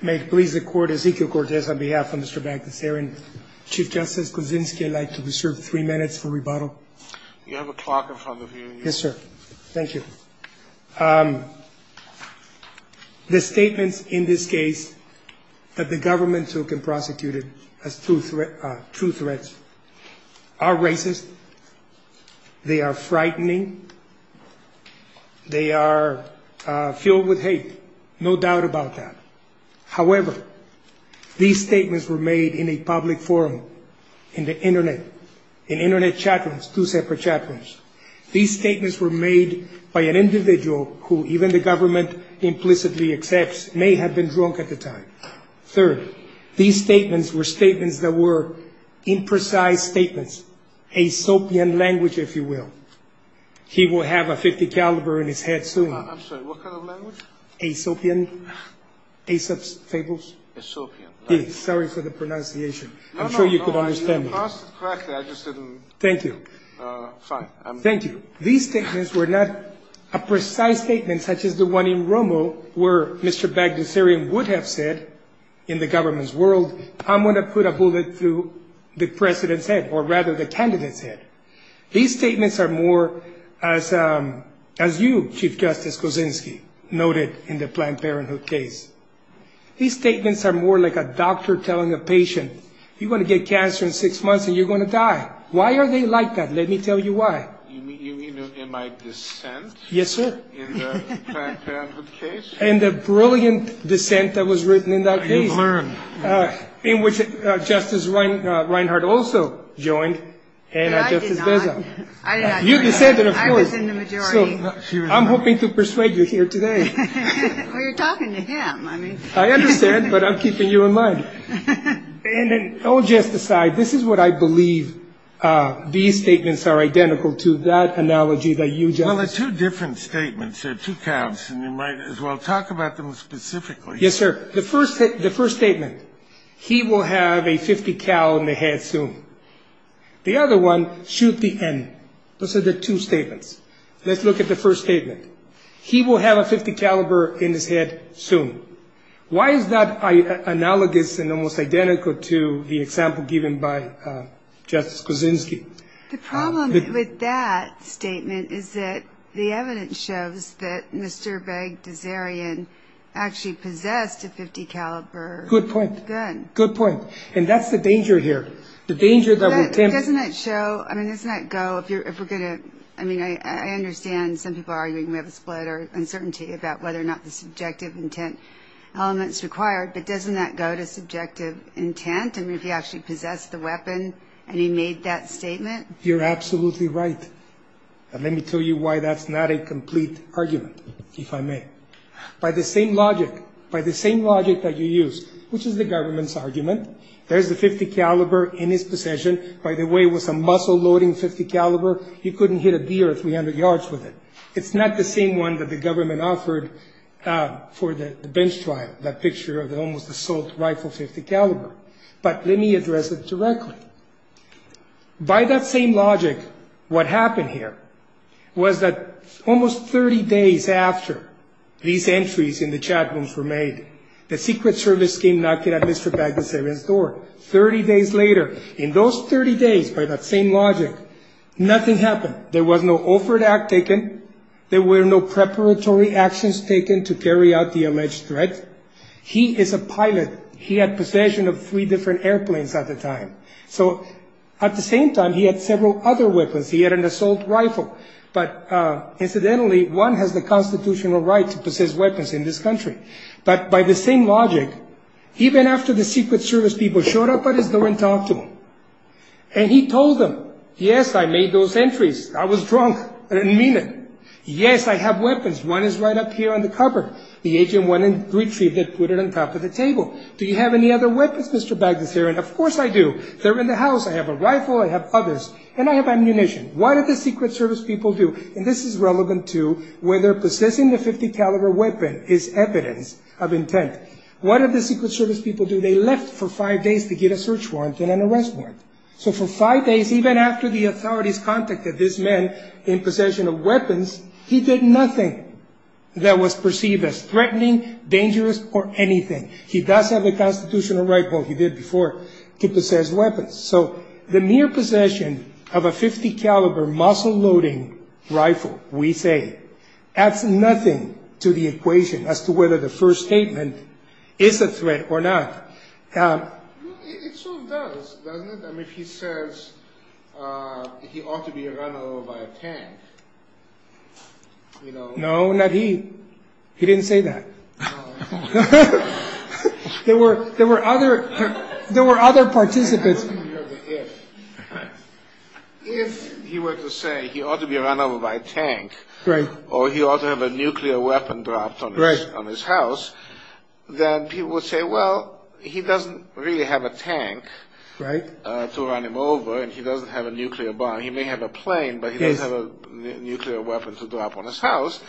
May it please the court, Ezekiel Cortez on behalf of Mr. Bagdasarian. Chief Justice Kuczynski, I'd like to reserve three minutes for rebuttal. You have a clock in front of you. Yes, sir. Thank you. The statements in this case that the government took and prosecuted as true threats are racist. They are frightening. They are filled with hate. No doubt about that. However, these statements were made in a public forum in the Internet, in Internet chat rooms, two separate chat rooms. These statements were made by an individual who even the government implicitly accepts may have been drunk at the time. Third, these statements were statements that were imprecise statements, a soapy and language, if you will. He will have a 50 caliber in his head soon. I'm sorry. What kind of language? A soapy and a soap fables. A soapy. Sorry for the pronunciation. I'm sure you could understand. I just didn't. Thank you. Thank you. These statements were not a precise statement, such as the one in Romo where Mr. Bagdasarian would have said in the government's world, I'm going to put a bullet through the president's head or rather the candidate's head. These statements are more as as you, Chief Justice Kuczynski noted in the Planned Parenthood case. These statements are more like a doctor telling a patient you're going to get cancer in six months and you're going to die. Why are they like that? Let me tell you why. You mean in my dissent? Yes, sir. In the Planned Parenthood case? In the brilliant dissent that was written in that case. I have learned. In which Justice Reinhart also joined and Justice Beza. I did not. You dissented of course. I was in the majority. I'm hoping to persuade you here today. Well, you're talking to him. I mean. I understand, but I'm keeping you in mind. And then all jest aside, this is what I believe these statements are identical to, that analogy that you just. Well, they're two different statements. They're two calves, and you might as well talk about them specifically. Yes, sir. The first statement, he will have a .50 cal in the head soon. The other one, shoot the N. Those are the two statements. Let's look at the first statement. He will have a .50 caliber in his head soon. Why is that analogous and almost identical to the example given by Justice Kuczynski? The problem with that statement is that the evidence shows that Mr. Beg-Desarian actually possessed a .50 caliber gun. Good point. Good point. And that's the danger here. The danger that would tempt. But doesn't that show, I mean, doesn't that go, if you're, if we're going to, I mean, I understand some people are arguing we have a split or uncertainty about whether or not the subjective intent element's required, but doesn't that go to subjective intent? I mean, if he actually possessed the weapon and he made that statement. You're absolutely right. And let me tell you why that's not a complete argument, if I may. By the same logic, by the same logic that you use, which is the government's argument, there's the .50 caliber in his possession. By the way, it was a muscle-loading .50 caliber. You couldn't hit a deer 300 yards with it. It's not the same one that the government offered for the bench trial, that picture of the almost assault rifle .50 caliber. But let me address it directly. By that same logic, what happened here was that almost 30 days after these entries in the chat rooms were made, the Secret Service came knocking at Mr. Bagdasarian's door 30 days later. In those 30 days, by that same logic, nothing happened. There was no offer to act taken. There were no preparatory actions taken to carry out the alleged threat. He is a pilot. He had possession of three different airplanes at the time. So at the same time, he had several other weapons. He had an assault rifle. But incidentally, one has the constitutional right to possess weapons in this country. But by the same logic, even after the Secret Service people showed up at his door and talked to him, and he told them, yes, I made those entries. I was drunk. I didn't mean it. Yes, I have weapons. One is right up here on the cupboard. The agent went and retrieved it, put it on top of the table. Do you have any other weapons, Mr. Bagdasarian? Of course I do. They're in the house. I have a rifle. I have others. And I have ammunition. What did the Secret Service people do? And this is relevant to whether possessing a .50 caliber weapon is evidence of intent. What did the Secret Service people do? They left for five days to get a search warrant and an arrest warrant. So for five days, even after the authorities contacted this man in possession of weapons, he did nothing that was perceived as threatening, dangerous, or anything. He does have the constitutional right, well, he did before, to possess weapons. So the mere possession of a .50 caliber muscle-loading rifle, we say, adds nothing to the equation as to whether the first statement is a threat or not. It sort of does, doesn't it? I mean, if he says he ought to be run over by a tank, you know. He didn't say that. There were other participants. If he were to say he ought to be run over by a tank, or he ought to have a nuclear weapon dropped on his house, then people would say, well, he doesn't really have a tank to run him over, and he doesn't have a nuclear bomb. He may have a plane, but he doesn't have a nuclear weapon to drop on his house.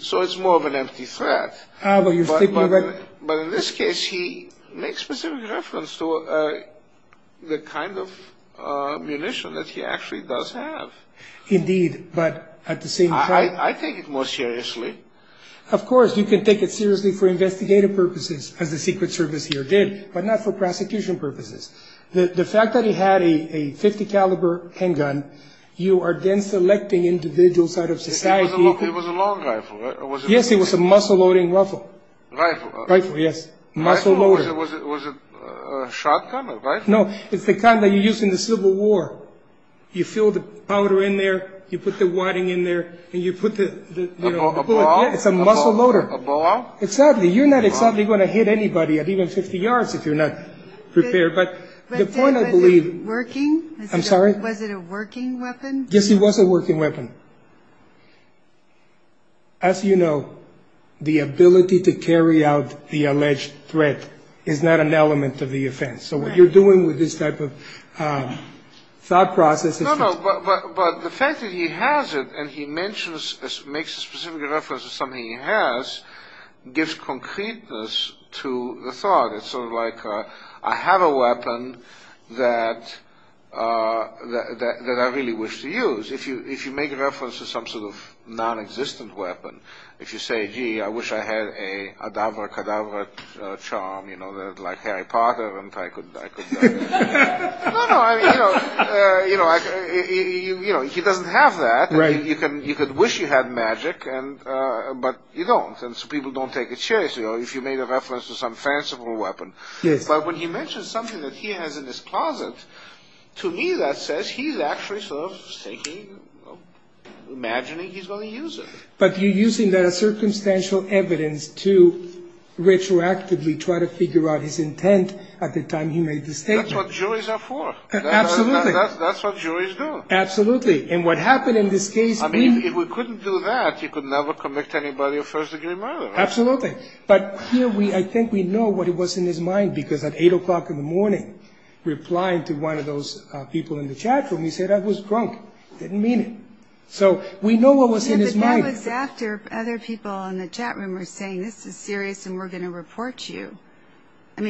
So it's more of an empty threat. But in this case, he makes specific reference to the kind of munition that he actually does have. Indeed, but at the same time... I take it more seriously. Of course, you can take it seriously for investigative purposes, as the Secret Service here did, but not for prosecution purposes. The fact that he had a .50 caliber handgun, you are then selecting individuals out of society... It was a long rifle, right? Yes, it was a muscle-loading rifle. Rifle? Rifle, yes. Muscle-loader. Rifle? Was it a shotgun, a rifle? No, it's the kind that you use in the Civil War. You fill the powder in there, you put the wadding in there, and you put the... A bow out? It's a muscle-loader. A bow out? Exactly. You're not exactly going to hit anybody at even 50 yards if you're not prepared. But the point I believe... Was it working? I'm sorry? Was it a working weapon? Yes, it was a working weapon. As you know, the ability to carry out the alleged threat is not an element of the offense. So what you're doing with this type of thought process... No, no, but the fact that he has it, and he makes a specific reference to something he has, gives concreteness to the thought. It's sort of like, I have a weapon that I really wish to use. If you make a reference to some sort of non-existent weapon, if you say, gee, I wish I had a cadaver-cadaver charm, you know, like Harry Potter, No, no, I mean, you know, he doesn't have that. You could wish you had magic, but you don't. And so people don't take it seriously if you made a reference to some fanciful weapon. But when he mentions something that he has in his closet, to me that says he's actually sort of thinking, imagining he's going to use it. But you're using that as circumstantial evidence to retroactively try to figure out his intent at the time he made the statement. That's what juries are for. Absolutely. That's what juries do. Absolutely. And what happened in this case... I mean, if we couldn't do that, you could never convict anybody of first-degree murder. Absolutely. But here, I think we know what was in his mind, because at 8 o'clock in the morning, replying to one of those people in the chatroom, he said, I was drunk. Didn't mean it. So we know what was in his mind. Yeah, but that was after other people in the chatroom were saying, this is serious and we're going to report you. In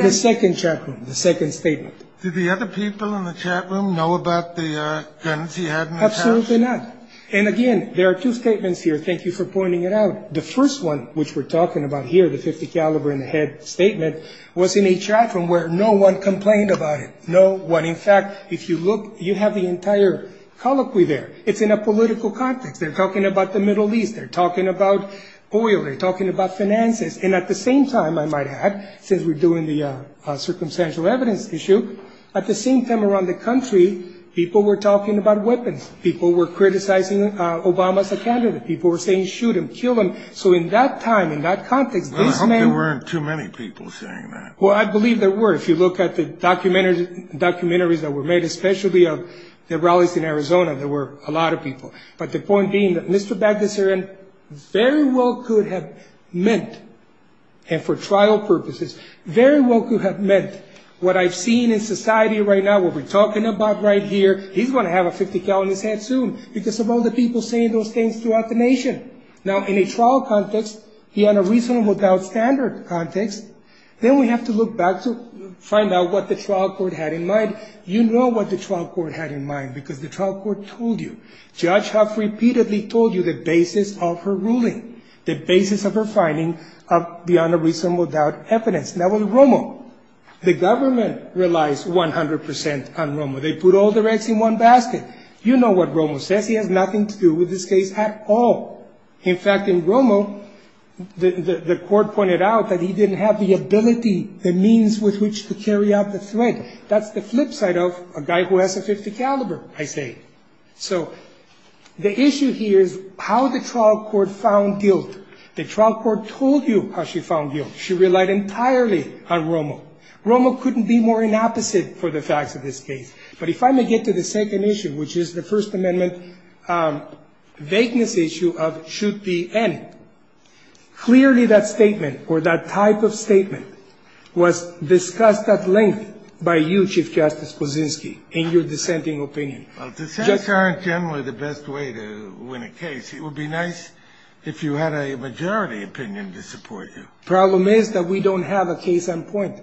the second chatroom, the second statement. Did the other people in the chatroom know about the guns he had in his house? Absolutely not. And, again, there are two statements here. Thank you for pointing it out. The first one, which we're talking about here, the .50 caliber in the head statement, was in a chatroom where no one complained about it. No one. In fact, if you look, you have the entire colloquy there. It's in a political context. They're talking about the Middle East. They're talking about oil. They're talking about finances. And at the same time, I might add, since we're doing the circumstantial evidence issue, at the same time around the country, people were talking about weapons. People were criticizing Obama as a candidate. People were saying, shoot him, kill him. So in that time, in that context, this man – Well, I hope there weren't too many people saying that. Well, I believe there were. If you look at the documentaries that were made, especially of the rallies in Arizona, there were a lot of people. But the point being that Mr. Bagdasarian very well could have meant, and for trial purposes, very well could have meant what I've seen in society right now, what we're talking about right here. He's going to have a .50 caliber in his head soon because of all the people saying those things throughout the nation. Now, in a trial context, he had a reasonable doubt standard context. Then we have to look back to find out what the trial court had in mind. You know what the trial court had in mind because the trial court told you. Judge Huff repeatedly told you the basis of her ruling, the basis of her finding of beyond a reasonable doubt evidence. Now, with Romo, the government relies 100 percent on Romo. They put all their eggs in one basket. You know what Romo says. He has nothing to do with this case at all. In fact, in Romo, the court pointed out that he didn't have the ability, the means with which to carry out the threat. That's the flip side of a guy who has a .50 caliber, I say. So the issue here is how the trial court found guilt. The trial court told you how she found guilt. She relied entirely on Romo. Romo couldn't be more inopposite for the facts of this case. But if I may get to the second issue, which is the First Amendment vagueness issue of should be any, clearly that statement or that type of statement was discussed at length by you, Chief Justice Kuczynski, in your dissenting opinion. Well, dissents aren't generally the best way to win a case. It would be nice if you had a majority opinion to support you. The problem is that we don't have a case on point,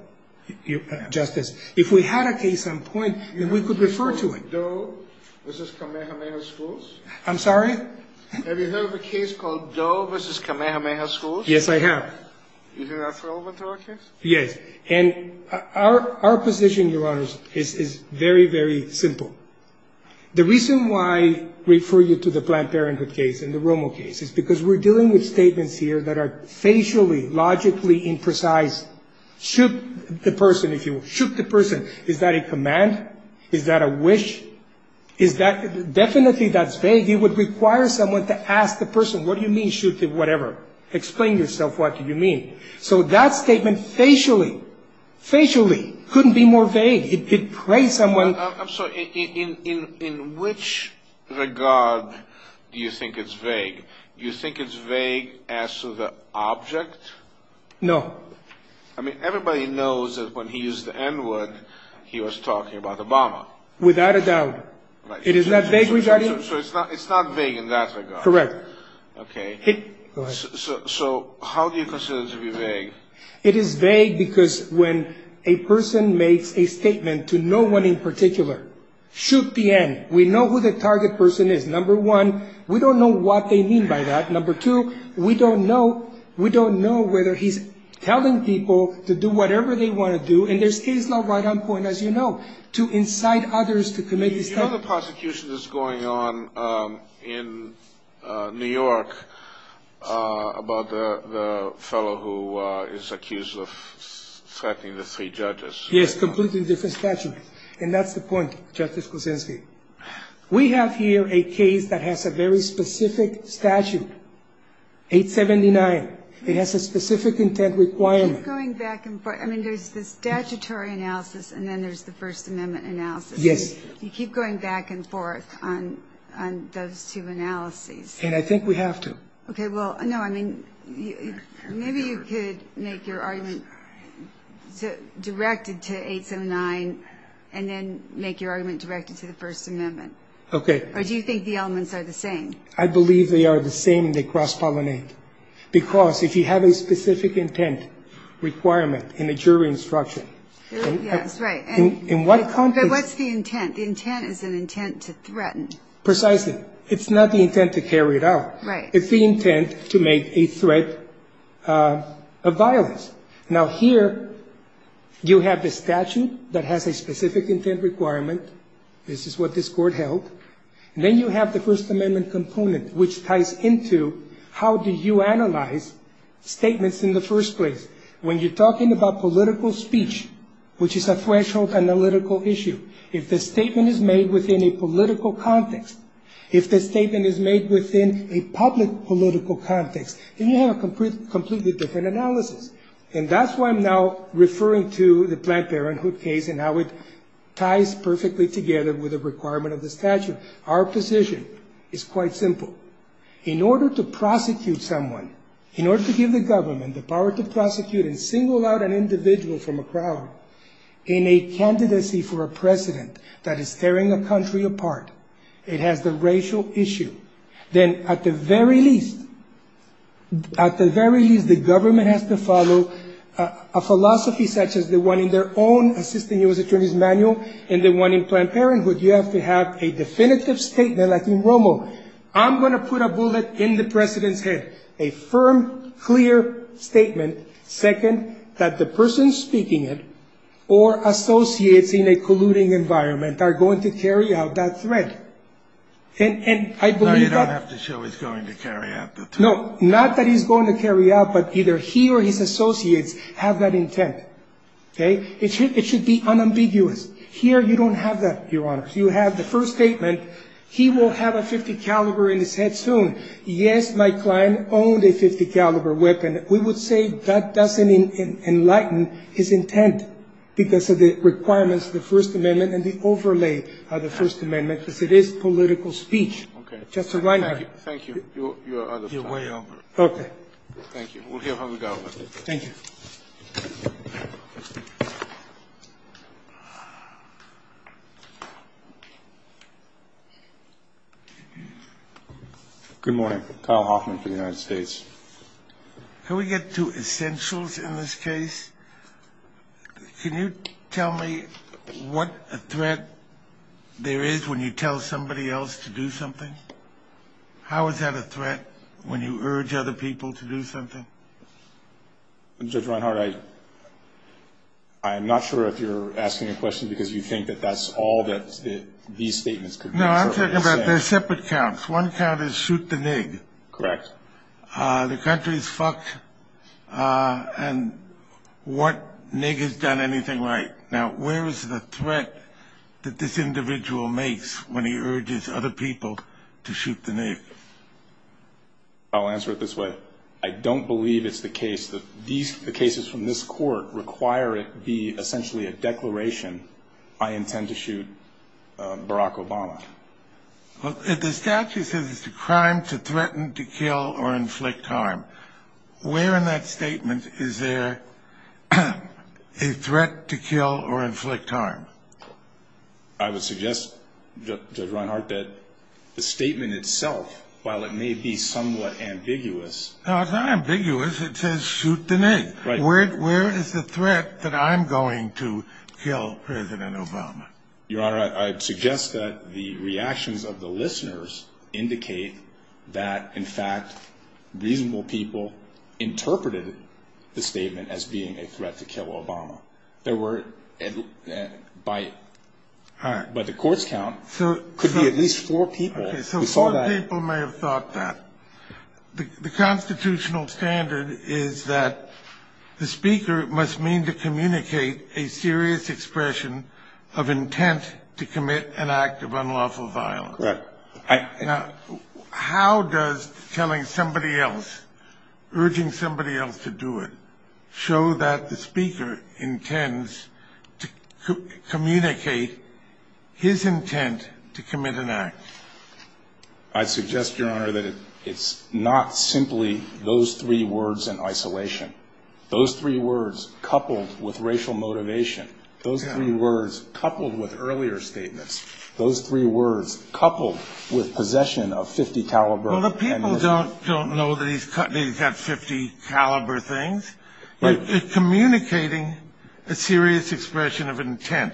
Justice. If we had a case on point, then we could refer to it. I'm sorry? Have you heard of a case called Doe v. Kamehameha Schools? Yes, I have. Is that relevant to our case? Yes. And our position, Your Honors, is very, very simple. The reason why I refer you to the Planned Parenthood case and the Romo case is because we're dealing with statements here that are facially, logically imprecise. Shoot the person, if you will. Shoot the person. Is that a command? Is that a wish? Definitely that's vague. It would require someone to ask the person, what do you mean, shoot the whatever? Explain yourself, what do you mean? So that statement facially, facially couldn't be more vague. It praised someone. I'm sorry. In which regard do you think it's vague? Do you think it's vague as to the object? No. I mean, everybody knows that when he used the N-word, he was talking about Obama. Without a doubt. It is not vague regarding? So it's not vague in that regard. Correct. Okay. So how do you consider it to be vague? It is vague because when a person makes a statement to no one in particular, shoot the N. We know who the target person is, number one. We don't know what they mean by that. Number two, we don't know, we don't know whether he's telling people to do whatever they want to do. And there's case law right on point, as you know, to incite others to commit this type of. The other prosecution that's going on in New York about the fellow who is accused of threatening the three judges. Yes, completely different statute. And that's the point, Justice Kuczynski. We have here a case that has a very specific statute, 879. It has a specific intent requirement. Going back and forth. I mean, there's the statutory analysis and then there's the First Amendment analysis. Yes. You keep going back and forth on those two analyses. And I think we have to. Okay. Well, no, I mean, maybe you could make your argument directed to 879 and then make your argument directed to the First Amendment. Okay. Or do you think the elements are the same? I believe they are the same and they cross-pollinate. Because if you have a specific intent requirement in a jury instruction. Yes, right. In what context? But what's the intent? The intent is an intent to threaten. Precisely. It's not the intent to carry it out. Right. It's the intent to make a threat of violence. Now, here you have the statute that has a specific intent requirement. This is what this Court held. And then you have the First Amendment component, which ties into how do you analyze statements in the first place. When you're talking about political speech, which is a threshold analytical issue, if the statement is made within a political context, if the statement is made within a public political context, then you have a completely different analysis. And that's why I'm now referring to the Planned Parenthood case and how it ties perfectly together with the requirement of the statute. Our position is quite simple. In order to prosecute someone, in order to give the government the power to prosecute and single out an individual from a crowd in a candidacy for a president that is tearing a country apart, it has the racial issue. Then at the very least, at the very least, the government has to follow a philosophy such as the one in their own Assistant U.S. Attorney's Manual and the one in Planned Parenthood. You have to have a definitive statement, like in Romo, I'm going to put a bullet in the president's head, a firm, clear statement. Second, that the person speaking it or associates in a colluding environment are going to carry out that threat. And I believe that... No, you don't have to show he's going to carry out the threat. No, not that he's going to carry out, but either he or his associates have that intent. Okay? It should be unambiguous. Here, you don't have that, Your Honor. You have the first statement, he will have a .50 caliber in his head soon. Yes, my client owned a .50 caliber weapon. We would say that doesn't enlighten his intent because of the requirements of the First Amendment and the overlay of the First Amendment, because it is political speech. Okay. Justice Reinhart. Thank you. You're way over. Okay. Thank you. We'll hear from the government. Thank you. Good morning. Kyle Hoffman for the United States. Can we get to essentials in this case? Can you tell me what a threat there is when you tell somebody else to do something? How is that a threat when you urge other people to do something? Judge Reinhart, I'm not sure if you're asking a question because you think that that's all that these statements could be. No, I'm talking about they're separate counts. One count is shoot the NIG. Correct. The country is fucked, and what NIG has done anything right? Now, where is the threat that this individual makes when he urges other people to shoot the NIG? I'll answer it this way. I don't believe it's the case that the cases from this court require it be essentially a declaration, I intend to shoot Barack Obama. The statute says it's a crime to threaten, to kill, or inflict harm. Where in that statement is there a threat to kill or inflict harm? I would suggest, Judge Reinhart, that the statement itself, while it may be somewhat ambiguous. No, it's not ambiguous. It says shoot the NIG. Right. Where is the threat that I'm going to kill President Obama? Your Honor, I'd suggest that the reactions of the listeners indicate that, in fact, reasonable people interpreted the statement as being a threat to kill Obama. There were, by the court's count. Could be at least four people who saw that. Okay, so four people may have thought that. The constitutional standard is that the speaker must mean to communicate a serious expression of intent to commit an act of unlawful violence. Right. How does telling somebody else, urging somebody else to do it, show that the speaker intends to communicate his intent to commit an act? I suggest, Your Honor, that it's not simply those three words in isolation. Those three words coupled with racial motivation, those three words coupled with earlier statements, those three words coupled with possession of .50 caliber. Well, the people don't know that he's got .50 caliber things. They're communicating a serious expression of intent,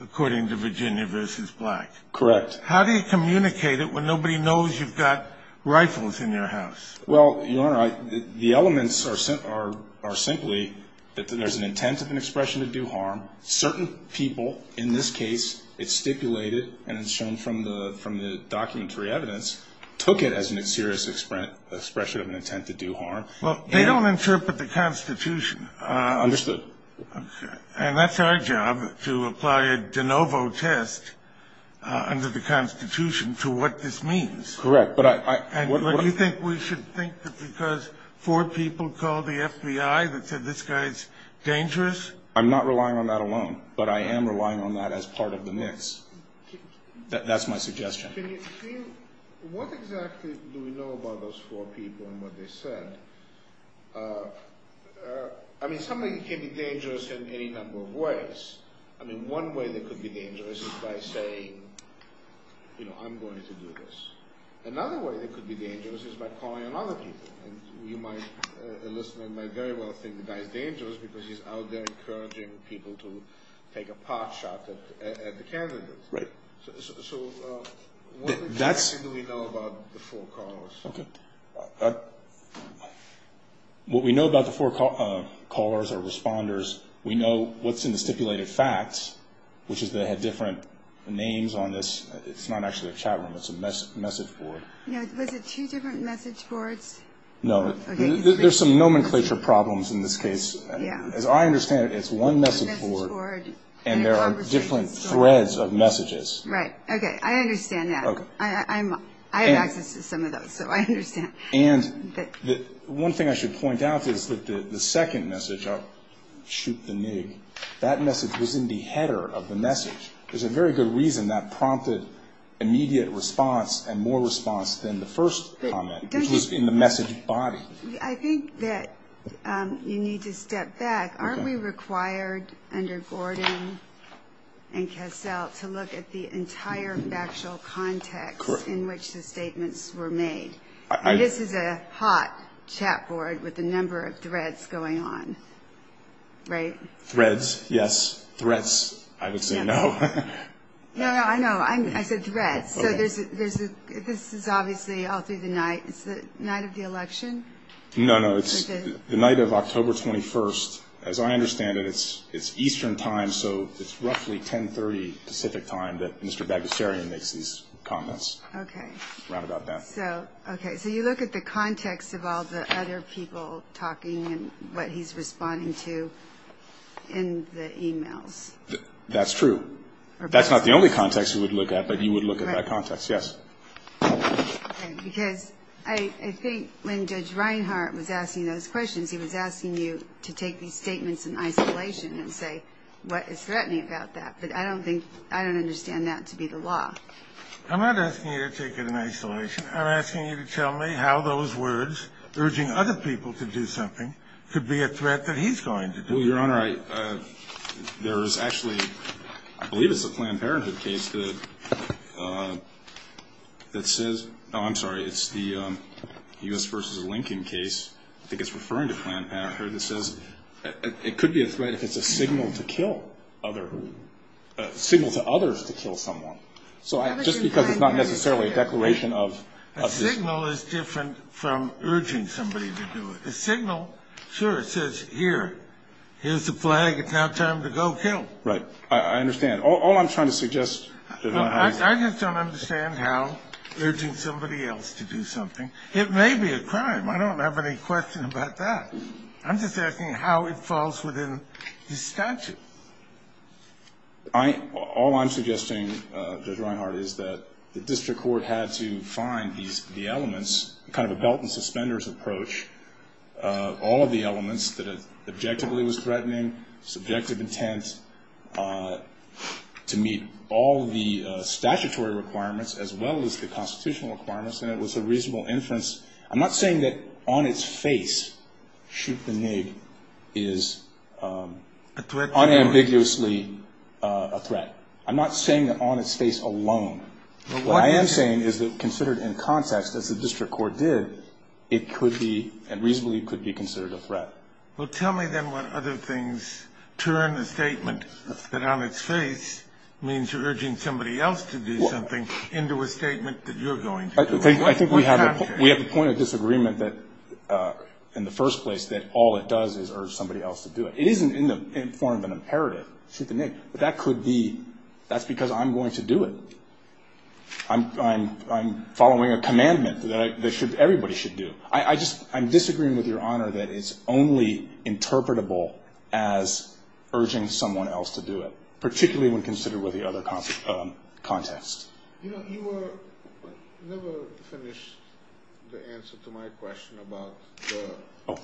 according to Virginia v. Black. Correct. How do you communicate it when nobody knows you've got rifles in your house? Well, Your Honor, the elements are simply that there's an intent of an expression to do harm. Certain people, in this case, it's stipulated and it's shown from the documentary evidence, took it as a serious expression of an intent to do harm. Well, they don't interpret the Constitution. Understood. Okay. And that's our job, to apply a de novo test under the Constitution to what this means. Correct. And you think we should think that because four people called the FBI that said this guy's dangerous? I'm not relying on that alone, but I am relying on that as part of the mix. That's my suggestion. What exactly do we know about those four people and what they said? I mean, somebody can be dangerous in any number of ways. I mean, one way they could be dangerous is by saying, you know, I'm going to do this. Another way they could be dangerous is by calling on other people. A list man might very well think the guy's dangerous because he's out there encouraging people to take a pot shot at the candidates. Right. So what exactly do we know about the four callers? Okay. What we know about the four callers or responders, we know what's in the stipulated facts, which is they had different names on this. It's not actually a chat room. It's a message board. Was it two different message boards? No. There's some nomenclature problems in this case. As I understand it, it's one message board and there are different threads of messages. Right. Okay. I understand that. I have access to some of those, so I understand. And one thing I should point out is that the second message, shoot the nig, that message was in the header of the message. There's a very good reason that prompted immediate response and more response than the first comment, which was in the message body. I think that you need to step back. Aren't we required under Gordon and Cassell to look at the entire factual context in which the statements were made? This is a hot chat board with a number of threads going on, right? Threads, yes. Threats, I would say no. No, no, I know. I said threads. So this is obviously all through the night. Is it the night of the election? No, no. It's the night of October 21st. As I understand it, it's Eastern time, so it's roughly 1030 Pacific time that Mr. Bagusarian makes these comments. Okay. Right about that. So, okay, so you look at the context of all the other people talking and what he's responding to in the e-mails. That's true. That's not the only context you would look at, but you would look at that context. Yes. Because I think when Judge Reinhart was asking those questions, he was asking you to take these statements in isolation and say what is threatening about that. But I don't think I don't understand that to be the law. I'm not asking you to take it in isolation. I'm asking you to tell me how those words, urging other people to do something, could be a threat that he's going to do. Well, Your Honor, there is actually, I believe it's a Planned Parenthood case that says, oh, I'm sorry, it's the U.S. v. Lincoln case, I think it's referring to Planned Parenthood, that says it could be a threat if it's a signal to kill other, a signal to others to kill someone. So just because it's not necessarily a declaration of this. A signal is different from urging somebody to do it. A signal, sure, it says here, here's the flag, it's now time to go kill. Right. I understand. All I'm trying to suggest, Your Honor, is... I just don't understand how urging somebody else to do something, it may be a crime. I don't have any question about that. I'm just asking how it falls within the statute. All I'm suggesting, Judge Reinhart, is that the district court had to find the elements, kind of a belt and suspenders approach, all of the elements that it objectively was threatening, subjective intent, to meet all the statutory requirements, as well as the constitutional requirements, and it was a reasonable inference. I'm not saying that on its face, shoot the NIG, is unambiguously a threat. I'm not saying that on its face alone. What I am saying is that considered in context, as the district court did, it could be, and reasonably could be, considered a threat. Well, tell me then what other things turn a statement that on its face means you're urging somebody else to do something into a statement that you're going to do. I think we have a point of disagreement that, in the first place, that all it does is urge somebody else to do it. It isn't in the form of an imperative, shoot the NIG, but that could be, that's because I'm going to do it. I'm following a commandment that everybody should do. I'm disagreeing with Your Honor that it's only interpretable as urging someone else to do it, particularly when considered with the other context. You know, you never finished the answer to my question about the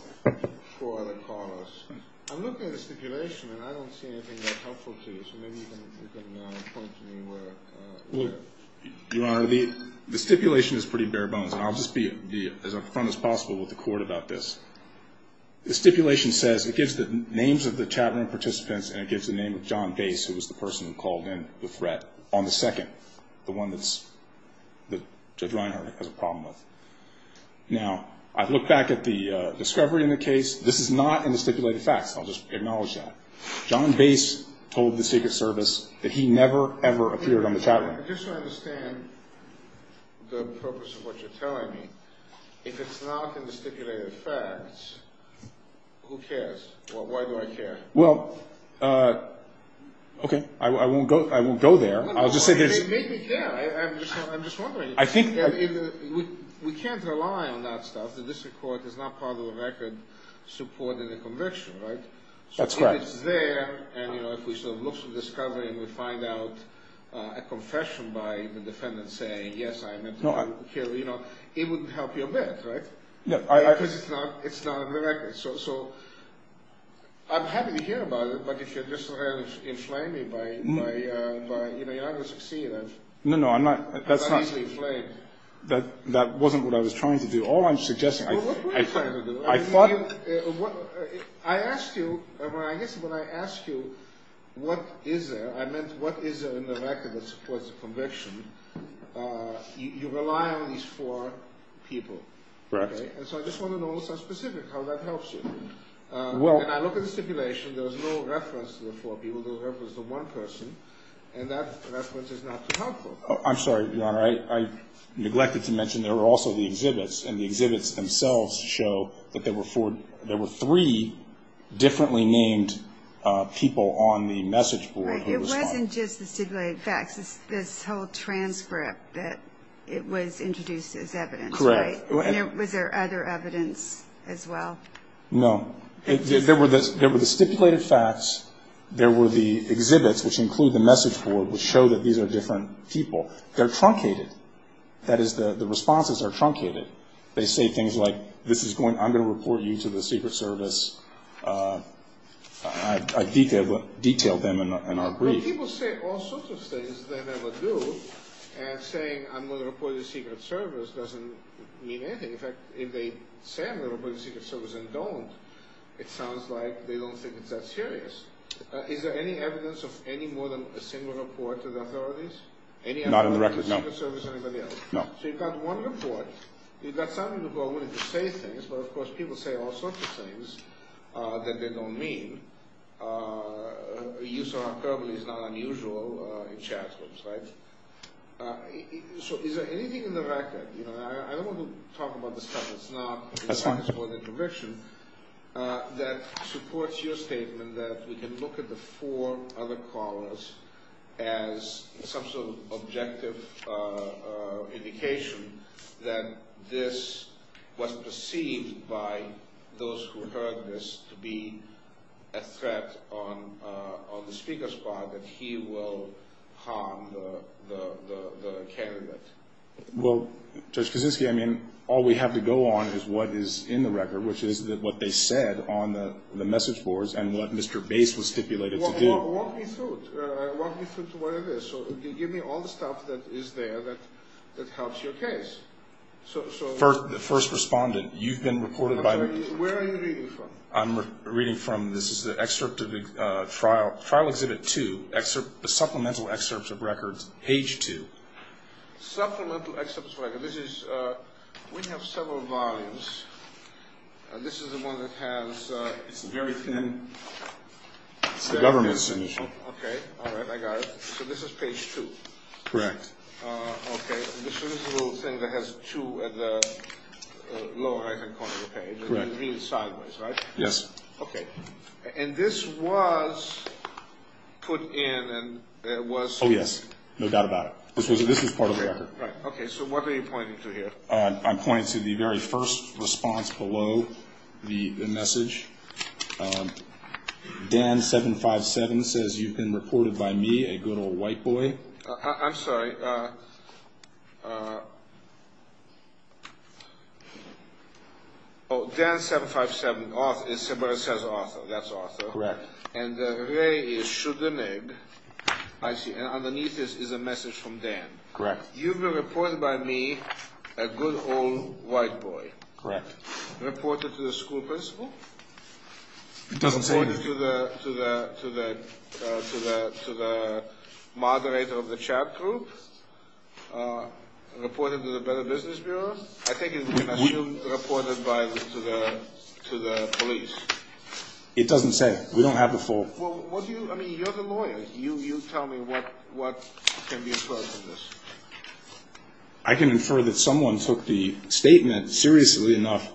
four other corners. I'm looking at the stipulation, and I don't see anything that's helpful to you, so maybe you can point to me where. Your Honor, the stipulation is pretty bare bones, and I'll just be as up front as possible with the court about this. The stipulation says, it gives the names of the chatroom participants, and it gives the name of John Gace, who was the person who called in the threat, on the second, the one that Judge Reinhardt has a problem with. Now, I've looked back at the discovery in the case. This is not in the stipulated facts. I'll just acknowledge that. John Gace told the Secret Service that he never, ever appeared on the chatroom. Just to understand the purpose of what you're telling me, if it's not in the stipulated facts, who cares? Why do I care? Well, okay, I won't go there. I'll just say there's... Maybe, yeah. I'm just wondering. I think... We can't rely on that stuff. The district court is not part of the record supporting the conviction, right? That's correct. So if it's there, and, you know, if we sort of look through the discovery and we find out a confession by the defendant saying, yes, I meant to kill, you know, it wouldn't help you a bit, right? No, I... Because it's not in the record. Right. So I'm happy to hear about it, but if you're just sort of inflaming me by, you know, you're not going to succeed. No, no, I'm not. I'm not easily inflamed. That wasn't what I was trying to do. All I'm suggesting... Well, what were you trying to do? I thought... I asked you, I guess when I asked you what is there, I meant what is there in the record that supports the conviction, you rely on these four people. Correct. Okay. And so I just want to know what's so specific, how that helps you. Well... When I look at the stipulation, there was no reference to the four people, there was reference to one person, and that reference is not helpful. I'm sorry, Your Honor, I neglected to mention there were also the exhibits, and the exhibits themselves show that there were four, there were three differently named people on the message board. It wasn't just the stipulated facts, this whole transcript that it was introduced as evidence, right? Correct. Was there other evidence as well? No. There were the stipulated facts, there were the exhibits, which include the message board, which show that these are different people. They're truncated. That is, the responses are truncated. They say things like, this is going, I'm going to report you to the Secret Service. I detailed them in our brief. People say all sorts of things they never do, and saying I'm going to report you to the Secret Service doesn't mean anything. In fact, if they say I'm going to report you to the Secret Service and don't, it sounds like they don't think it's that serious. Is there any evidence of any more than a single report to the authorities? Not on the record, no. So you've got one report. You've got some people willing to say things, but of course people say all sorts of things that they don't mean. The use of our verbally is not unusual in chat rooms, right? So is there anything in the record? I don't want to talk about this stuff that's not in the Office of Audit and Provision. That supports your statement that we can look at the four other callers as some sort of objective indication that this was perceived by those who heard this to be a threat on the Speaker's part, that he will harm the candidate. Well, Judge Kaczynski, I mean, all we have to go on is what is in the record, which is what they said on the message boards and what Mr. Base was stipulated to do. Walk me through it. Walk me through to what it is. Give me all the stuff that is there that helps your case. The first respondent, you've been reported by the – Where are you reading from? I'm reading from – this is the excerpt of the trial, trial exhibit two, supplemental excerpts of records, page two. Supplemental excerpts of records. This is – we have several volumes. This is the one that has – It's a very thin – It's the government submission. Okay, all right, I got it. So this is page two? Correct. Okay, so this is the little thing that has two at the lower right-hand corner of the page. Correct. Really sideways, right? Yes. Okay. And this was put in and it was – Oh, yes. No doubt about it. This is part of the record. Right. Okay, so what are you pointing to here? I'm pointing to the very first response below the message. Dan 757 says you've been reported by me, a good old white boy. I'm sorry. Oh, Dan 757 is somebody that says Arthur. That's Arthur. Correct. And Ray is Schudamig. I see. And underneath this is a message from Dan. Correct. You've been reported by me, a good old white boy. Correct. Reported to the school principal. It doesn't say anything. Reported to the moderator of the chat group. Reported to the business bureau. I think it's reported to the police. It doesn't say. We don't have the full – Well, what do you – I mean, you're the lawyer. You tell me what can be inferred from this. I can infer that someone took the statement seriously enough.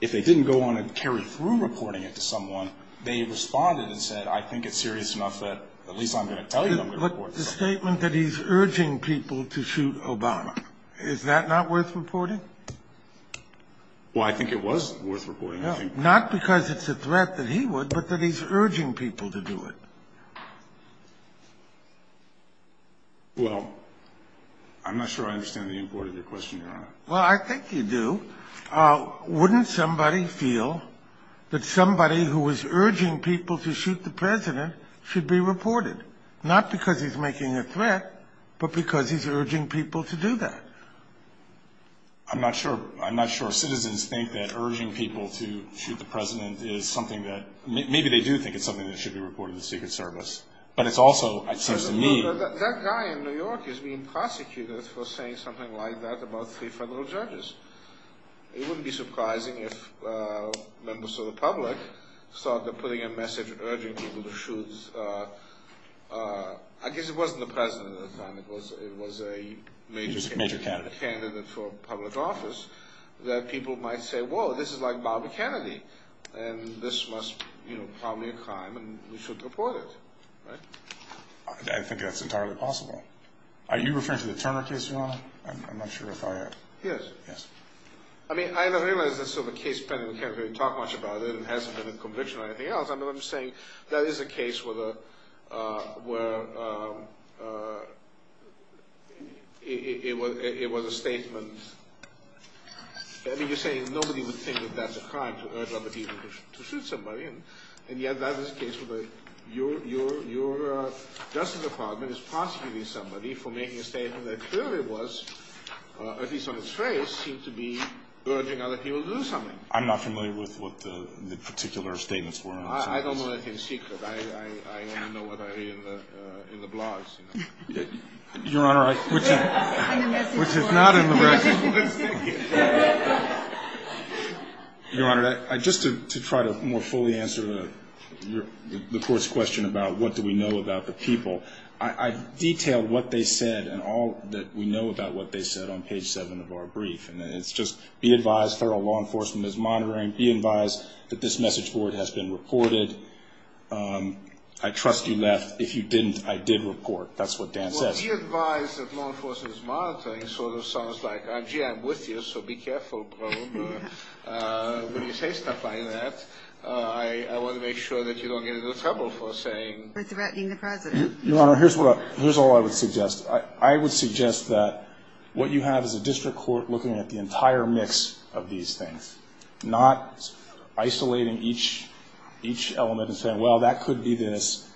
If they didn't go on and carry through reporting it to someone, they responded and said, I think it's serious enough that at least I'm going to tell you I'm going to report this. But the statement that he's urging people to shoot Obama, is that not worth reporting? Well, I think it was worth reporting. Not because it's a threat that he would, but that he's urging people to do it. Well, I'm not sure I understand the import of your question, Your Honor. Well, I think you do. Wouldn't somebody feel that somebody who was urging people to shoot the president should be reported? Not because he's making a threat, but because he's urging people to do that. I'm not sure citizens think that urging people to shoot the president is something that – maybe they do think it's something that should be reported to the Secret Service. But it's also, it seems to me – That guy in New York is being prosecuted for saying something like that about three federal judges. It wouldn't be surprising if members of the public thought that putting a message urging people to shoot – I guess it wasn't the president at the time. It was a major candidate for public office, that people might say, whoa, this is like Bobby Kennedy, and this must probably be a crime, and we should report it. I think that's entirely possible. Are you referring to the Turner case, Your Honor? I'm not sure if I have – Yes. Yes. I mean, I realize that's sort of a case pending. We can't really talk much about it. It hasn't been a conviction or anything else. I mean, I'm saying that is a case where it was a statement – I mean, you're saying nobody would think that that's a crime to urge other people to shoot somebody, and yet that is a case where your Justice Department is prosecuting somebody for making a statement that clearly was, at least on its face, seemed to be urging other people to do something. I'm not familiar with what the particular statements were. I don't know that in secret. I only know what I read in the blogs, you know. Your Honor, I – And the message was – Which is not in the – The message was – Your Honor, just to try to more fully answer the Court's question about what do we know about the people, I detailed what they said and all that we know about what they said on page 7 of our brief, and it's just be advised federal law enforcement is monitoring. Be advised that this message board has been reported. I trust you left. If you didn't, I did report. That's what Dan says. Well, be advised that law enforcement is monitoring sort of sounds like, gee, I'm with you, so be careful, bro. When you say stuff like that, I want to make sure that you don't get into trouble for saying – It's about being the President. Your Honor, here's what – here's all I would suggest. I would suggest that what you have is a district court looking at the entire mix of these things, not isolating each element and saying, well, that could be this,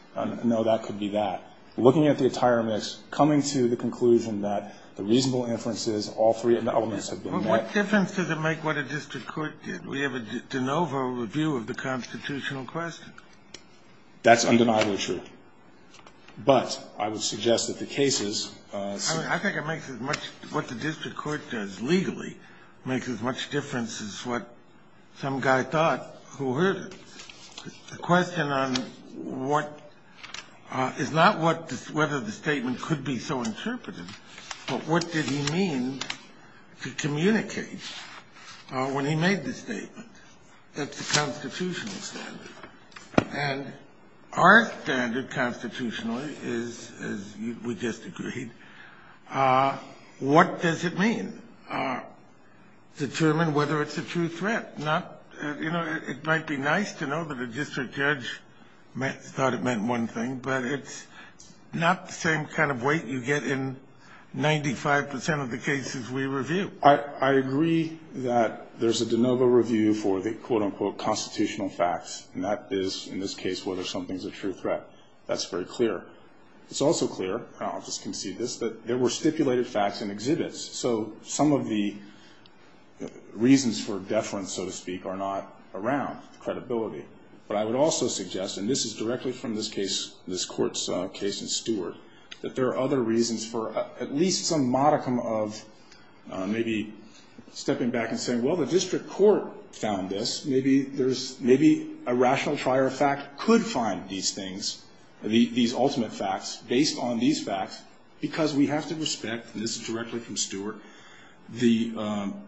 no, that could be that. Looking at the entire mix, coming to the conclusion that the reasonable inference is all three elements have been met. What difference does it make what a district court did? We have a de novo review of the constitutional question. That's undeniably true. But I would suggest that the cases – I think it makes as much – what the district court does legally makes as much difference as what some guy thought who heard it. The question on what – is not what – whether the statement could be so interpreted, but what did he mean to communicate when he made the statement. That's the constitutional standard. And our standard constitutionally is, as we just agreed, what does it mean? Determine whether it's a true threat. Not – you know, it might be nice to know that a district judge thought it meant one thing, but it's not the same kind of weight you get in 95 percent of the cases we review. I agree that there's a de novo review for the quote-unquote constitutional facts, and that is, in this case, whether something's a true threat. That's very clear. It's also clear – and I'll just concede this – that there were stipulated facts in exhibits. So some of the reasons for deference, so to speak, are not around credibility. But I would also suggest – and this is directly from this case, this court's case in Stewart – that there are other reasons for at least some modicum of maybe stepping back and saying, well, the district court found this. Maybe there's – maybe a rational trier of fact could find these things, these ultimate facts, based on these facts, because we have to respect – and this is directly from Stewart –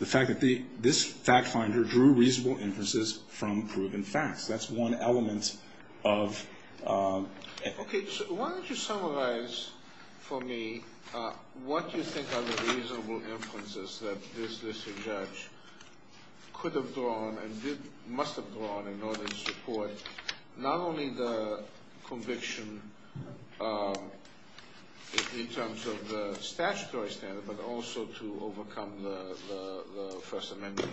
the fact that this fact finder drew reasonable inferences from proven facts. That's one element of – Okay. Why don't you summarize for me what you think are the reasonable inferences that this district judge could have drawn and must have drawn in order to support not only the conviction in terms of the statutory standard, but also to overcome the First Amendment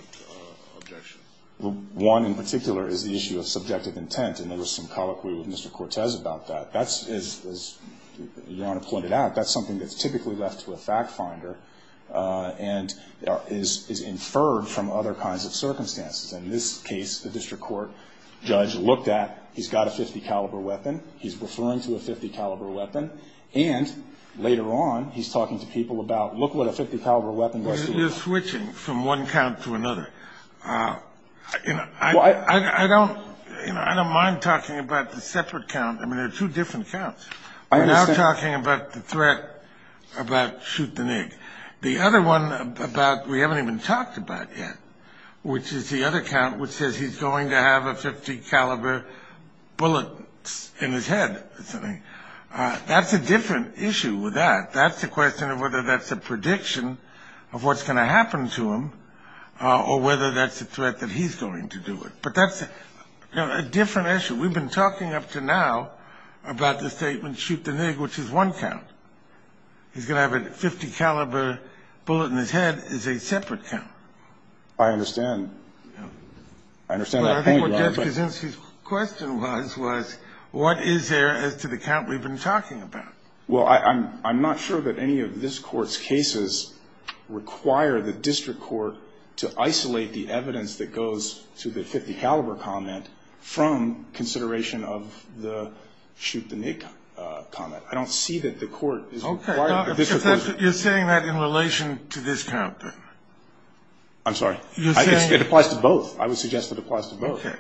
objection? Well, one in particular is the issue of subjective intent. And there was some colloquy with Mr. Cortez about that. That's – as Your Honor pointed out, that's something that's typically left to a fact finder and is inferred from other kinds of circumstances. And in this case, the district court judge looked at – he's got a .50-caliber weapon. He's referring to a .50-caliber weapon. And later on, he's talking to people about, look what a .50-caliber weapon looks like. Well, you're switching from one count to another. You know, I don't – you know, I don't mind talking about the separate count. I mean, they're two different counts. I understand. We're now talking about the threat about shoot the nig. The other one about – we haven't even talked about yet, which is the other count, which says he's going to have a .50-caliber bullet in his head or something. That's a different issue with that. That's a question of whether that's a prediction of what's going to happen to him or whether that's a threat that he's going to do it. But that's a different issue. We've been talking up to now about the statement shoot the nig, which is one count. He's going to have a .50-caliber bullet in his head is a separate count. I understand. I understand that point, Your Honor. Well, I think what Jeff Kaczynski's question was, was what is there as to the count we've been talking about? Well, I'm not sure that any of this Court's cases require the district court to isolate the evidence that goes to the .50-caliber comment from consideration of the shoot the nig comment. I don't see that the court is required. Okay. You're saying that in relation to this count, then? I'm sorry? You're saying? It applies to both. I would suggest it applies to both. Okay.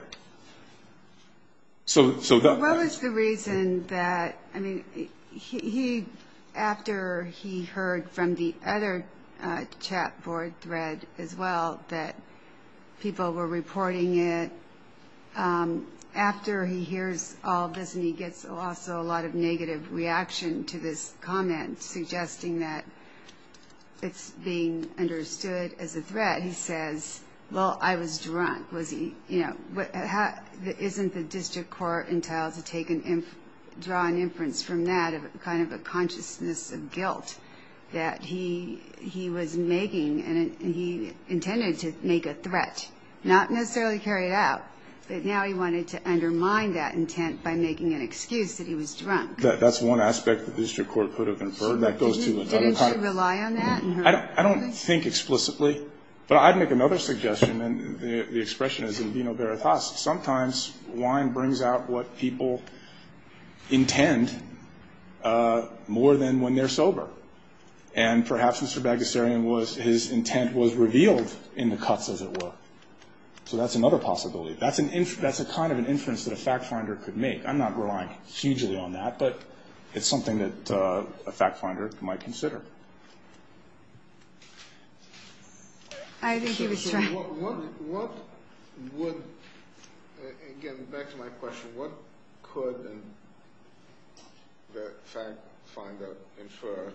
What was the reason that, I mean, after he heard from the other chat board thread as well that people were reporting it, after he hears all this and he gets also a lot of negative reaction to this comment suggesting that it's being understood as a threat, that he says, well, I was drunk. Isn't the district court entitled to draw an inference from that of kind of a consciousness of guilt that he was making and he intended to make a threat, not necessarily carry it out, but now he wanted to undermine that intent by making an excuse that he was drunk. That's one aspect that the district court could have inferred. Didn't she rely on that? I don't think explicitly, but I'd make another suggestion, and the expression is in vino veritas. Sometimes wine brings out what people intend more than when they're sober, and perhaps Mr. Bagasserian, his intent was revealed in the cuts, as it were. So that's another possibility. That's a kind of an inference that a fact finder could make. I'm not relying hugely on that, but it's something that a fact finder might consider. I think he was trying to— What would, again, back to my question, what could the fact finder infer,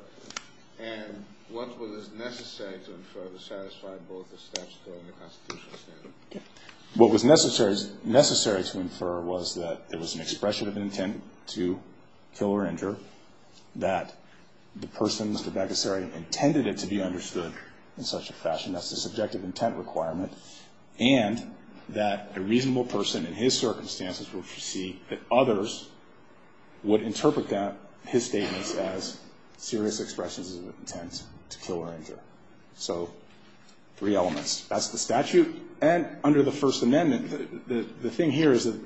and what was necessary to infer to satisfy both the statutory and the constitutional standard? What was necessary to infer was that there was an expression of intent to kill or injure, that the person, Mr. Bagasserian, intended it to be understood in such a fashion. That's a subjective intent requirement, and that a reasonable person in his circumstances would foresee that others would interpret that, his statements, as serious expressions of intent to kill or injure. So three elements. That's the statute, and under the First Amendment, the thing here is that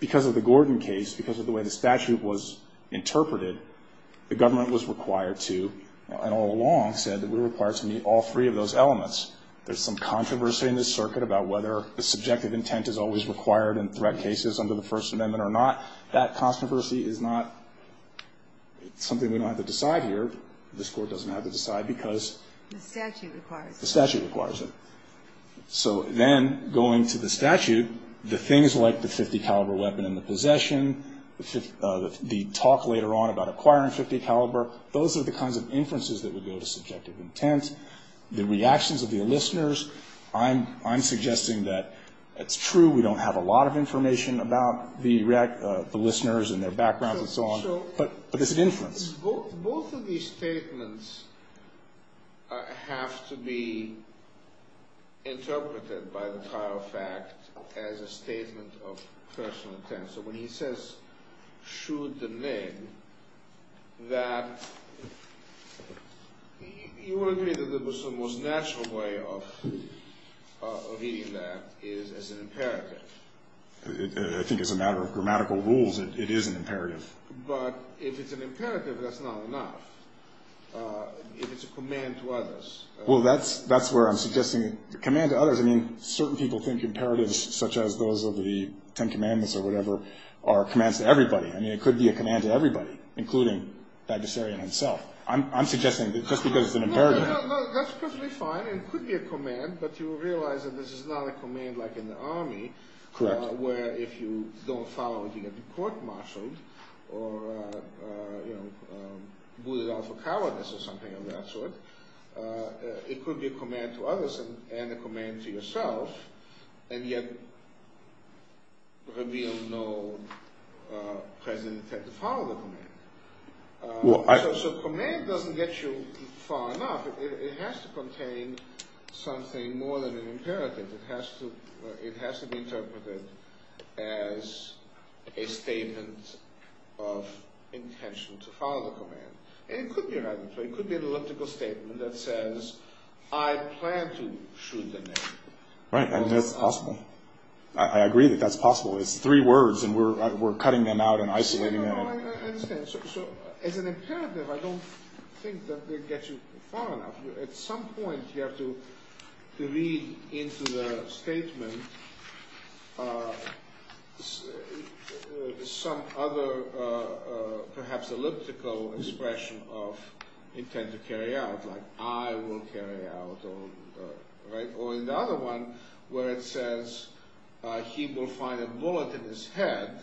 because of the Gordon case, because of the way the statute was interpreted, the government was required to, and all along said that we were required to meet all three of those elements. There's some controversy in this circuit about whether the subjective intent is always required in threat cases under the First Amendment or not. That controversy is not something we don't have to decide here. This Court doesn't have to decide because— The statute requires it. So then, going to the statute, the things like the .50 caliber weapon and the possession, the talk later on about acquiring .50 caliber, those are the kinds of inferences that would go to subjective intent. The reactions of the listeners, I'm suggesting that it's true we don't have a lot of information about the listeners and their backgrounds and so on, but it's an inference. Both of these statements have to be interpreted by the prior fact as a statement of personal intent. So when he says, shoot the leg, that—you would agree that the most natural way of reading that is as an imperative. I think as a matter of grammatical rules, it is an imperative. But if it's an imperative, that's not enough. If it's a command to others— Well, that's where I'm suggesting—a command to others. I mean, certain people think imperatives, such as those of the Ten Commandments or whatever, are commands to everybody. I mean, it could be a command to everybody, including Baggesserian himself. I'm suggesting that just because it's an imperative— No, no, no, that's perfectly fine. It could be a command, but you realize that this is not a command like in the Army— Correct. —where if you don't follow it, you get court-martialed or booted out for cowardice or something of that sort. It could be a command to others and a command to yourself, and yet reveal no present intent to follow the command. So command doesn't get you far enough. It has to contain something more than an imperative. It has to be interpreted as a statement of intention to follow the command. And it could be rather—it could be an elliptical statement that says, I plan to shoot the next one. Right, and that's possible. I agree that that's possible. It's three words, and we're cutting them out and isolating them. I understand. So as an imperative, I don't think that will get you far enough. At some point, you have to read into the statement some other perhaps elliptical expression of intent to carry out, like I will carry out, or in the other one where it says he will find a bullet in his head,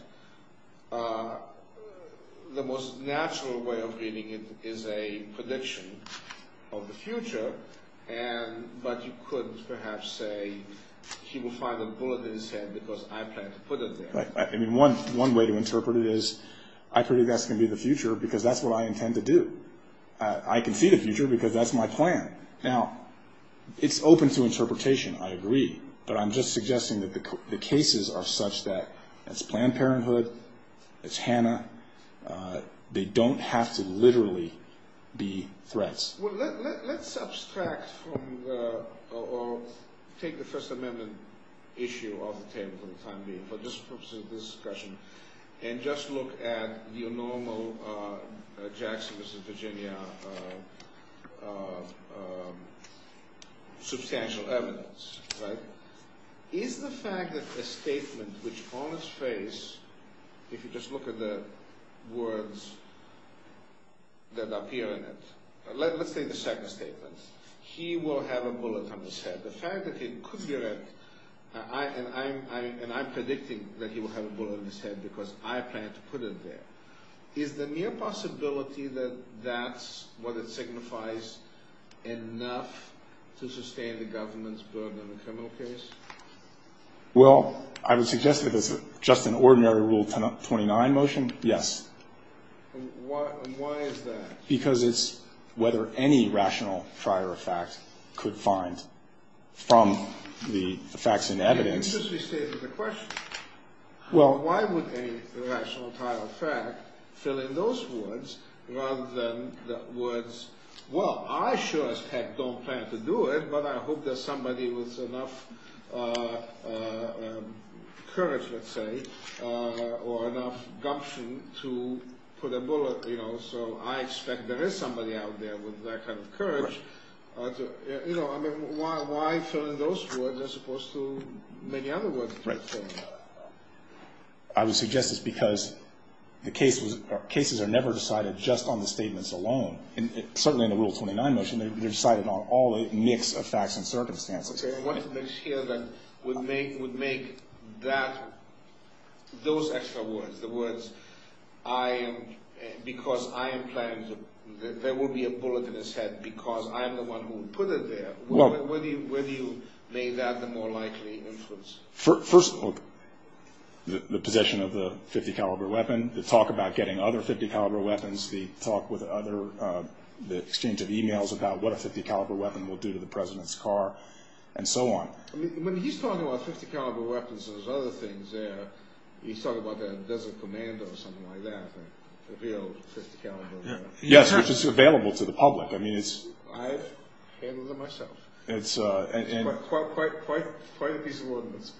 the most natural way of reading it is a prediction of the future, but you could perhaps say he will find a bullet in his head because I plan to put it there. I mean, one way to interpret it is I predict that's going to be the future because that's what I intend to do. I can see the future because that's my plan. Now, it's open to interpretation, I agree, but I'm just suggesting that the cases are such that it's Planned Parenthood, it's Hannah. They don't have to literally be threats. Well, let's subtract or take the First Amendment issue off the table for the time being, and just look at the normal Jackson, Mississippi, Virginia substantial evidence. Is the fact that a statement which on its face, if you just look at the words that appear in it, let's say the second statement, he will have a bullet in his head. The fact that he could get it, and I'm predicting that he will have a bullet in his head because I plan to put it there. Is the mere possibility that that's what it signifies enough to sustain the government's burden on a criminal case? Well, I would suggest that it's just an ordinary Rule 29 motion, yes. And why is that? Because it's whether any rational trier of fact could find from the facts and evidence. It just restates the question. Well, why would a rational trier of fact fill in those words rather than the words, well, I sure as heck don't plan to do it, but I hope there's somebody with enough courage, let's say, or enough gumption to put a bullet, you know, so I expect there is somebody out there with that kind of courage. You know, I mean, why fill in those words as opposed to many other words? Right. I would suggest it's because the cases are never decided just on the statements alone. Certainly in the Rule 29 motion, they're decided on all a mix of facts and circumstances. I want to make sure that we make that, those extra words, the words, I am, because I am planning, there will be a bullet in his head because I am the one who put it there. Well. Whether you made that the more likely influence. First of all, the position of the .50 caliber weapon, the talk about getting other .50 caliber weapons, the talk with other, the exchange of e-mails about what a .50 caliber weapon will do to the President's car and so on. I mean, when he's talking about .50 caliber weapons and there's other things there, he's talking about the Desert Commando or something like that, the real .50 caliber. Yes, which is available to the public. I mean, it's. I've handled it myself. It's. Quite a piece of ordinance,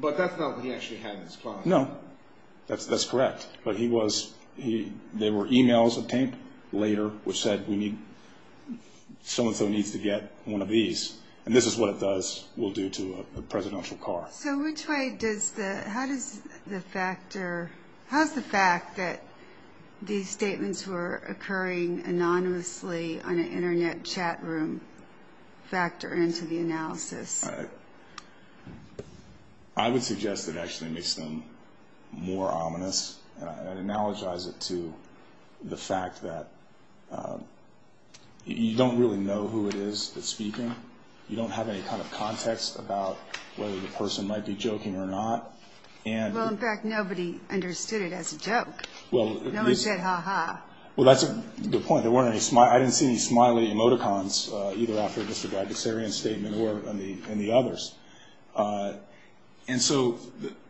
but that's not what he actually had in his closet. No, that's correct. But he was, there were e-mails obtained later which said we need, so-and-so needs to get one of these, and this is what it does, will do to a presidential car. So which way does the, how does the factor, how does the fact that these statements were occurring anonymously on an Internet chat room factor into the analysis? I would suggest it actually makes them more ominous. I'd analogize it to the fact that you don't really know who it is that's speaking. You don't have any kind of context about whether the person might be joking or not, and. Well, in fact, nobody understood it as a joke. Well. No one said ha-ha. Well, that's a good point. There weren't any, I didn't see any smiley emoticons, either after Mr. Bagusarian's statement or in the others. And so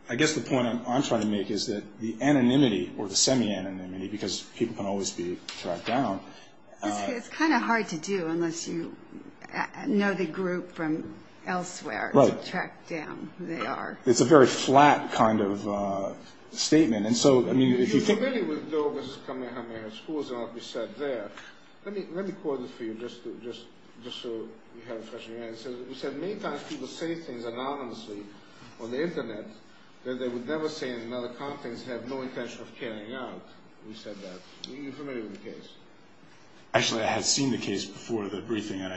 I guess the point I'm trying to make is that the anonymity or the semi-anonymity, because people can always be tracked down. It's kind of hard to do unless you know the group from elsewhere to track down who they are. It's a very flat kind of statement. And so, I mean, if you think. I agree with what was coming out of schools and what was said there. Let me quote it for you just so you have a fresh view. He said, Many times people say things anonymously on the Internet that they would never say in another conference and have no intention of carrying out. He said that. Are you familiar with the case? Actually, I had seen the case before the briefing, and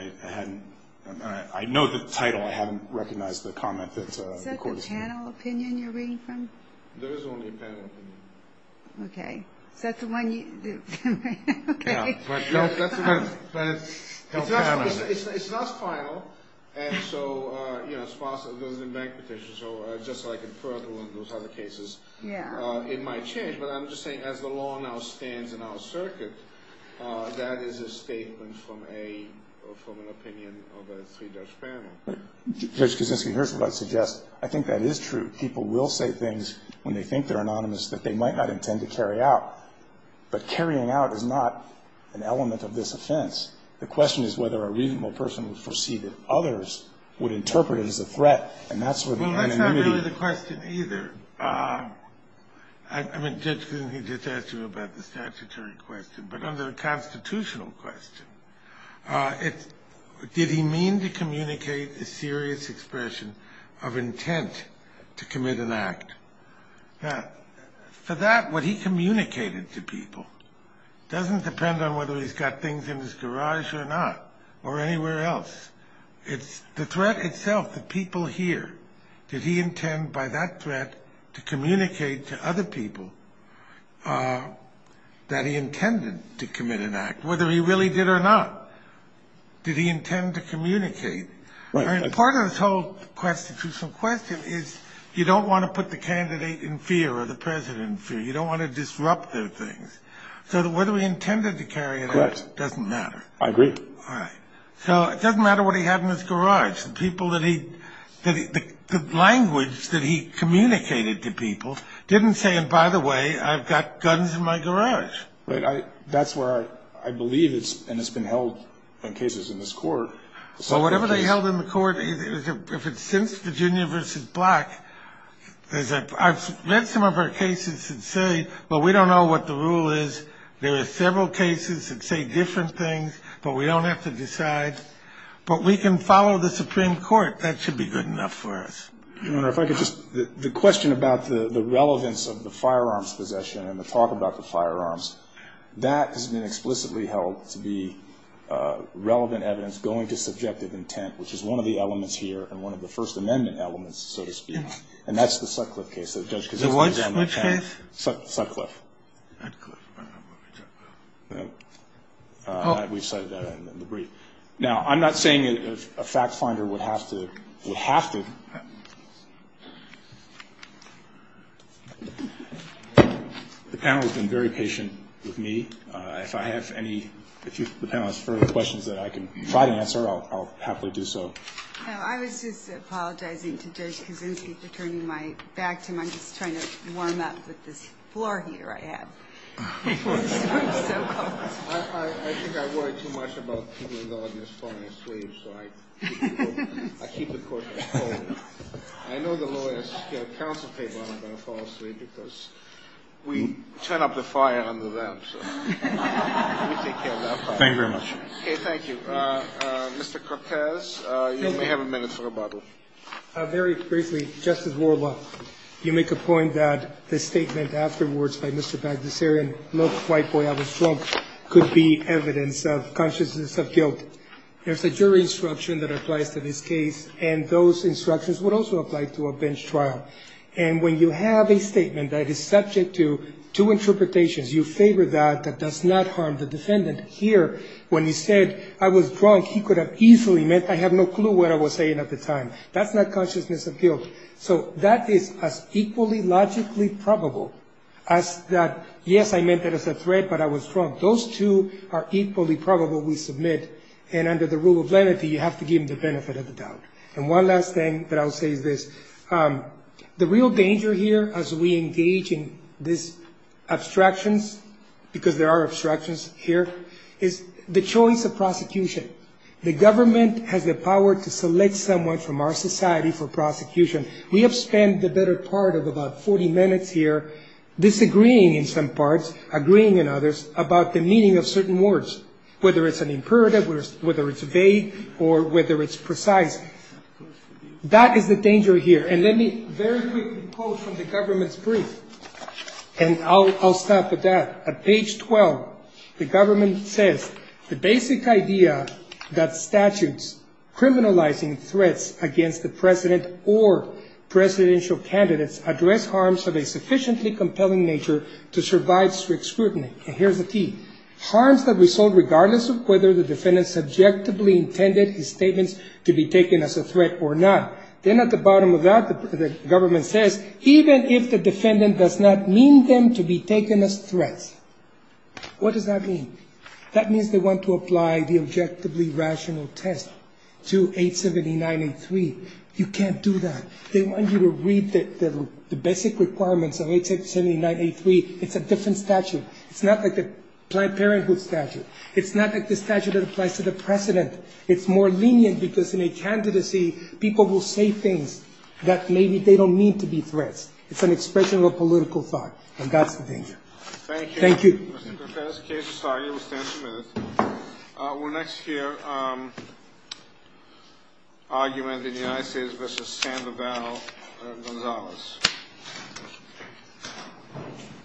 I know the title. I haven't recognized the comment that the court has made. Is that the panel opinion you're reading from? There is only a panel opinion. Okay. Is that the one you? Okay. That's the panel. It's not final. And so, you know, there's a bank petition. So just like in those other cases, it might change. But I'm just saying as the law now stands in our circuit, that is a statement from an opinion of a three-judge panel. Judge Kuczynski, here's what I suggest. I think that is true. People will say things when they think they're anonymous that they might not intend to carry out. But carrying out is not an element of this offense. The question is whether a reasonable person would foresee that others would interpret it as a threat. And that's where the anonymity. Well, that's not really the question either. I mean, Judge Kuczynski just asked you about the statutory question. But under the constitutional question, did he mean to communicate a serious expression of intent to commit an act? Now, for that, what he communicated to people doesn't depend on whether he's got things in his garage or not or anywhere else. It's the threat itself, the people here. Did he intend by that threat to communicate to other people that he intended to commit an act, whether he really did or not? Did he intend to communicate? Right. Part of this whole constitutional question is you don't want to put the candidate in fear or the president in fear. You don't want to disrupt their things. So whether he intended to carry it out doesn't matter. Correct. I agree. All right. So it doesn't matter what he had in his garage. The people that he the language that he communicated to people didn't say, and by the way, I've got guns in my garage. Right. That's where I believe it's and it's been held in cases in this court. So whatever they held in the court, if it's since Virginia v. Black, there's I've read some of our cases that say, well, we don't know what the rule is. There are several cases that say different things, but we don't have to decide. But we can follow the Supreme Court. That should be good enough for us. You know, if I could just the question about the relevance of the firearms possession and the talk about the firearms, that has been explicitly held to be relevant evidence going to subjective intent, which is one of the elements here and one of the First Amendment elements, so to speak. And that's the Sutcliffe case. Which case? Sutcliffe. Oh, we've cited that in the brief. Now, I'm not saying a fact finder would have to have to. The panel has been very patient with me. If I have any, if the panel has further questions that I can try to answer, I'll happily do so. No, I was just apologizing to Judge Kuczynski for turning my back to him. I'm just trying to warm up with this floor heater I have. I'm so cold. I think I worry too much about people in the audience falling asleep, so I keep it cold. I know the lawyers counsel people aren't going to fall asleep because we turn up the fire under them, so we take care of that part. Thank you very much. Okay, thank you. Mr. Cortez, you may have a minute for rebuttal. Very briefly, Justice Worla, you make a point that the statement afterwards by Mr. Bagdasarian, look, white boy, I was drunk, could be evidence of consciousness of guilt. There's a jury instruction that applies to this case, and those instructions would also apply to a bench trial. And when you have a statement that is subject to two interpretations, you favor that that does not harm the defendant. Here, when he said, I was drunk, he could have easily meant, I have no clue what I was saying at the time. That's not consciousness of guilt. So that is as equally logically probable as that, yes, I meant that as a threat, but I was drunk. Those two are equally probable, we submit, and under the rule of lenity, you have to give them the benefit of the doubt. And one last thing that I'll say is this. The real danger here as we engage in these abstractions, because there are abstractions here, is the choice of prosecution. The government has the power to select someone from our society for prosecution. We have spent the better part of about 40 minutes here disagreeing in some parts, agreeing in others, about the meaning of certain words, whether it's an imperative, whether it's vague, or whether it's precise. That is the danger here, and let me very quickly quote from the government's brief, and I'll stop at that. At page 12, the government says, The basic idea that statutes criminalizing threats against the president or presidential candidates address harms of a sufficiently compelling nature to survive strict scrutiny. And here's the key. regardless of whether the defendant subjectively intended his statements to be taken as a threat or not. Then at the bottom of that, the government says, Even if the defendant does not mean them to be taken as threats. What does that mean? That means they want to apply the objectively rational test to 879.83. You can't do that. They want you to read the basic requirements of 879.83. It's a different statute. It's not like the Planned Parenthood statute. It's not like the statute that applies to the president. It's more lenient because in a candidacy, people will say things that maybe they don't mean to be threats. It's an expression of a political thought, and that's the danger. Thank you. Thank you. Mr. Perfetti's case, sorry, you will stand for a minute. We'll next hear an argument in the United States versus Sandoval Gonzalez.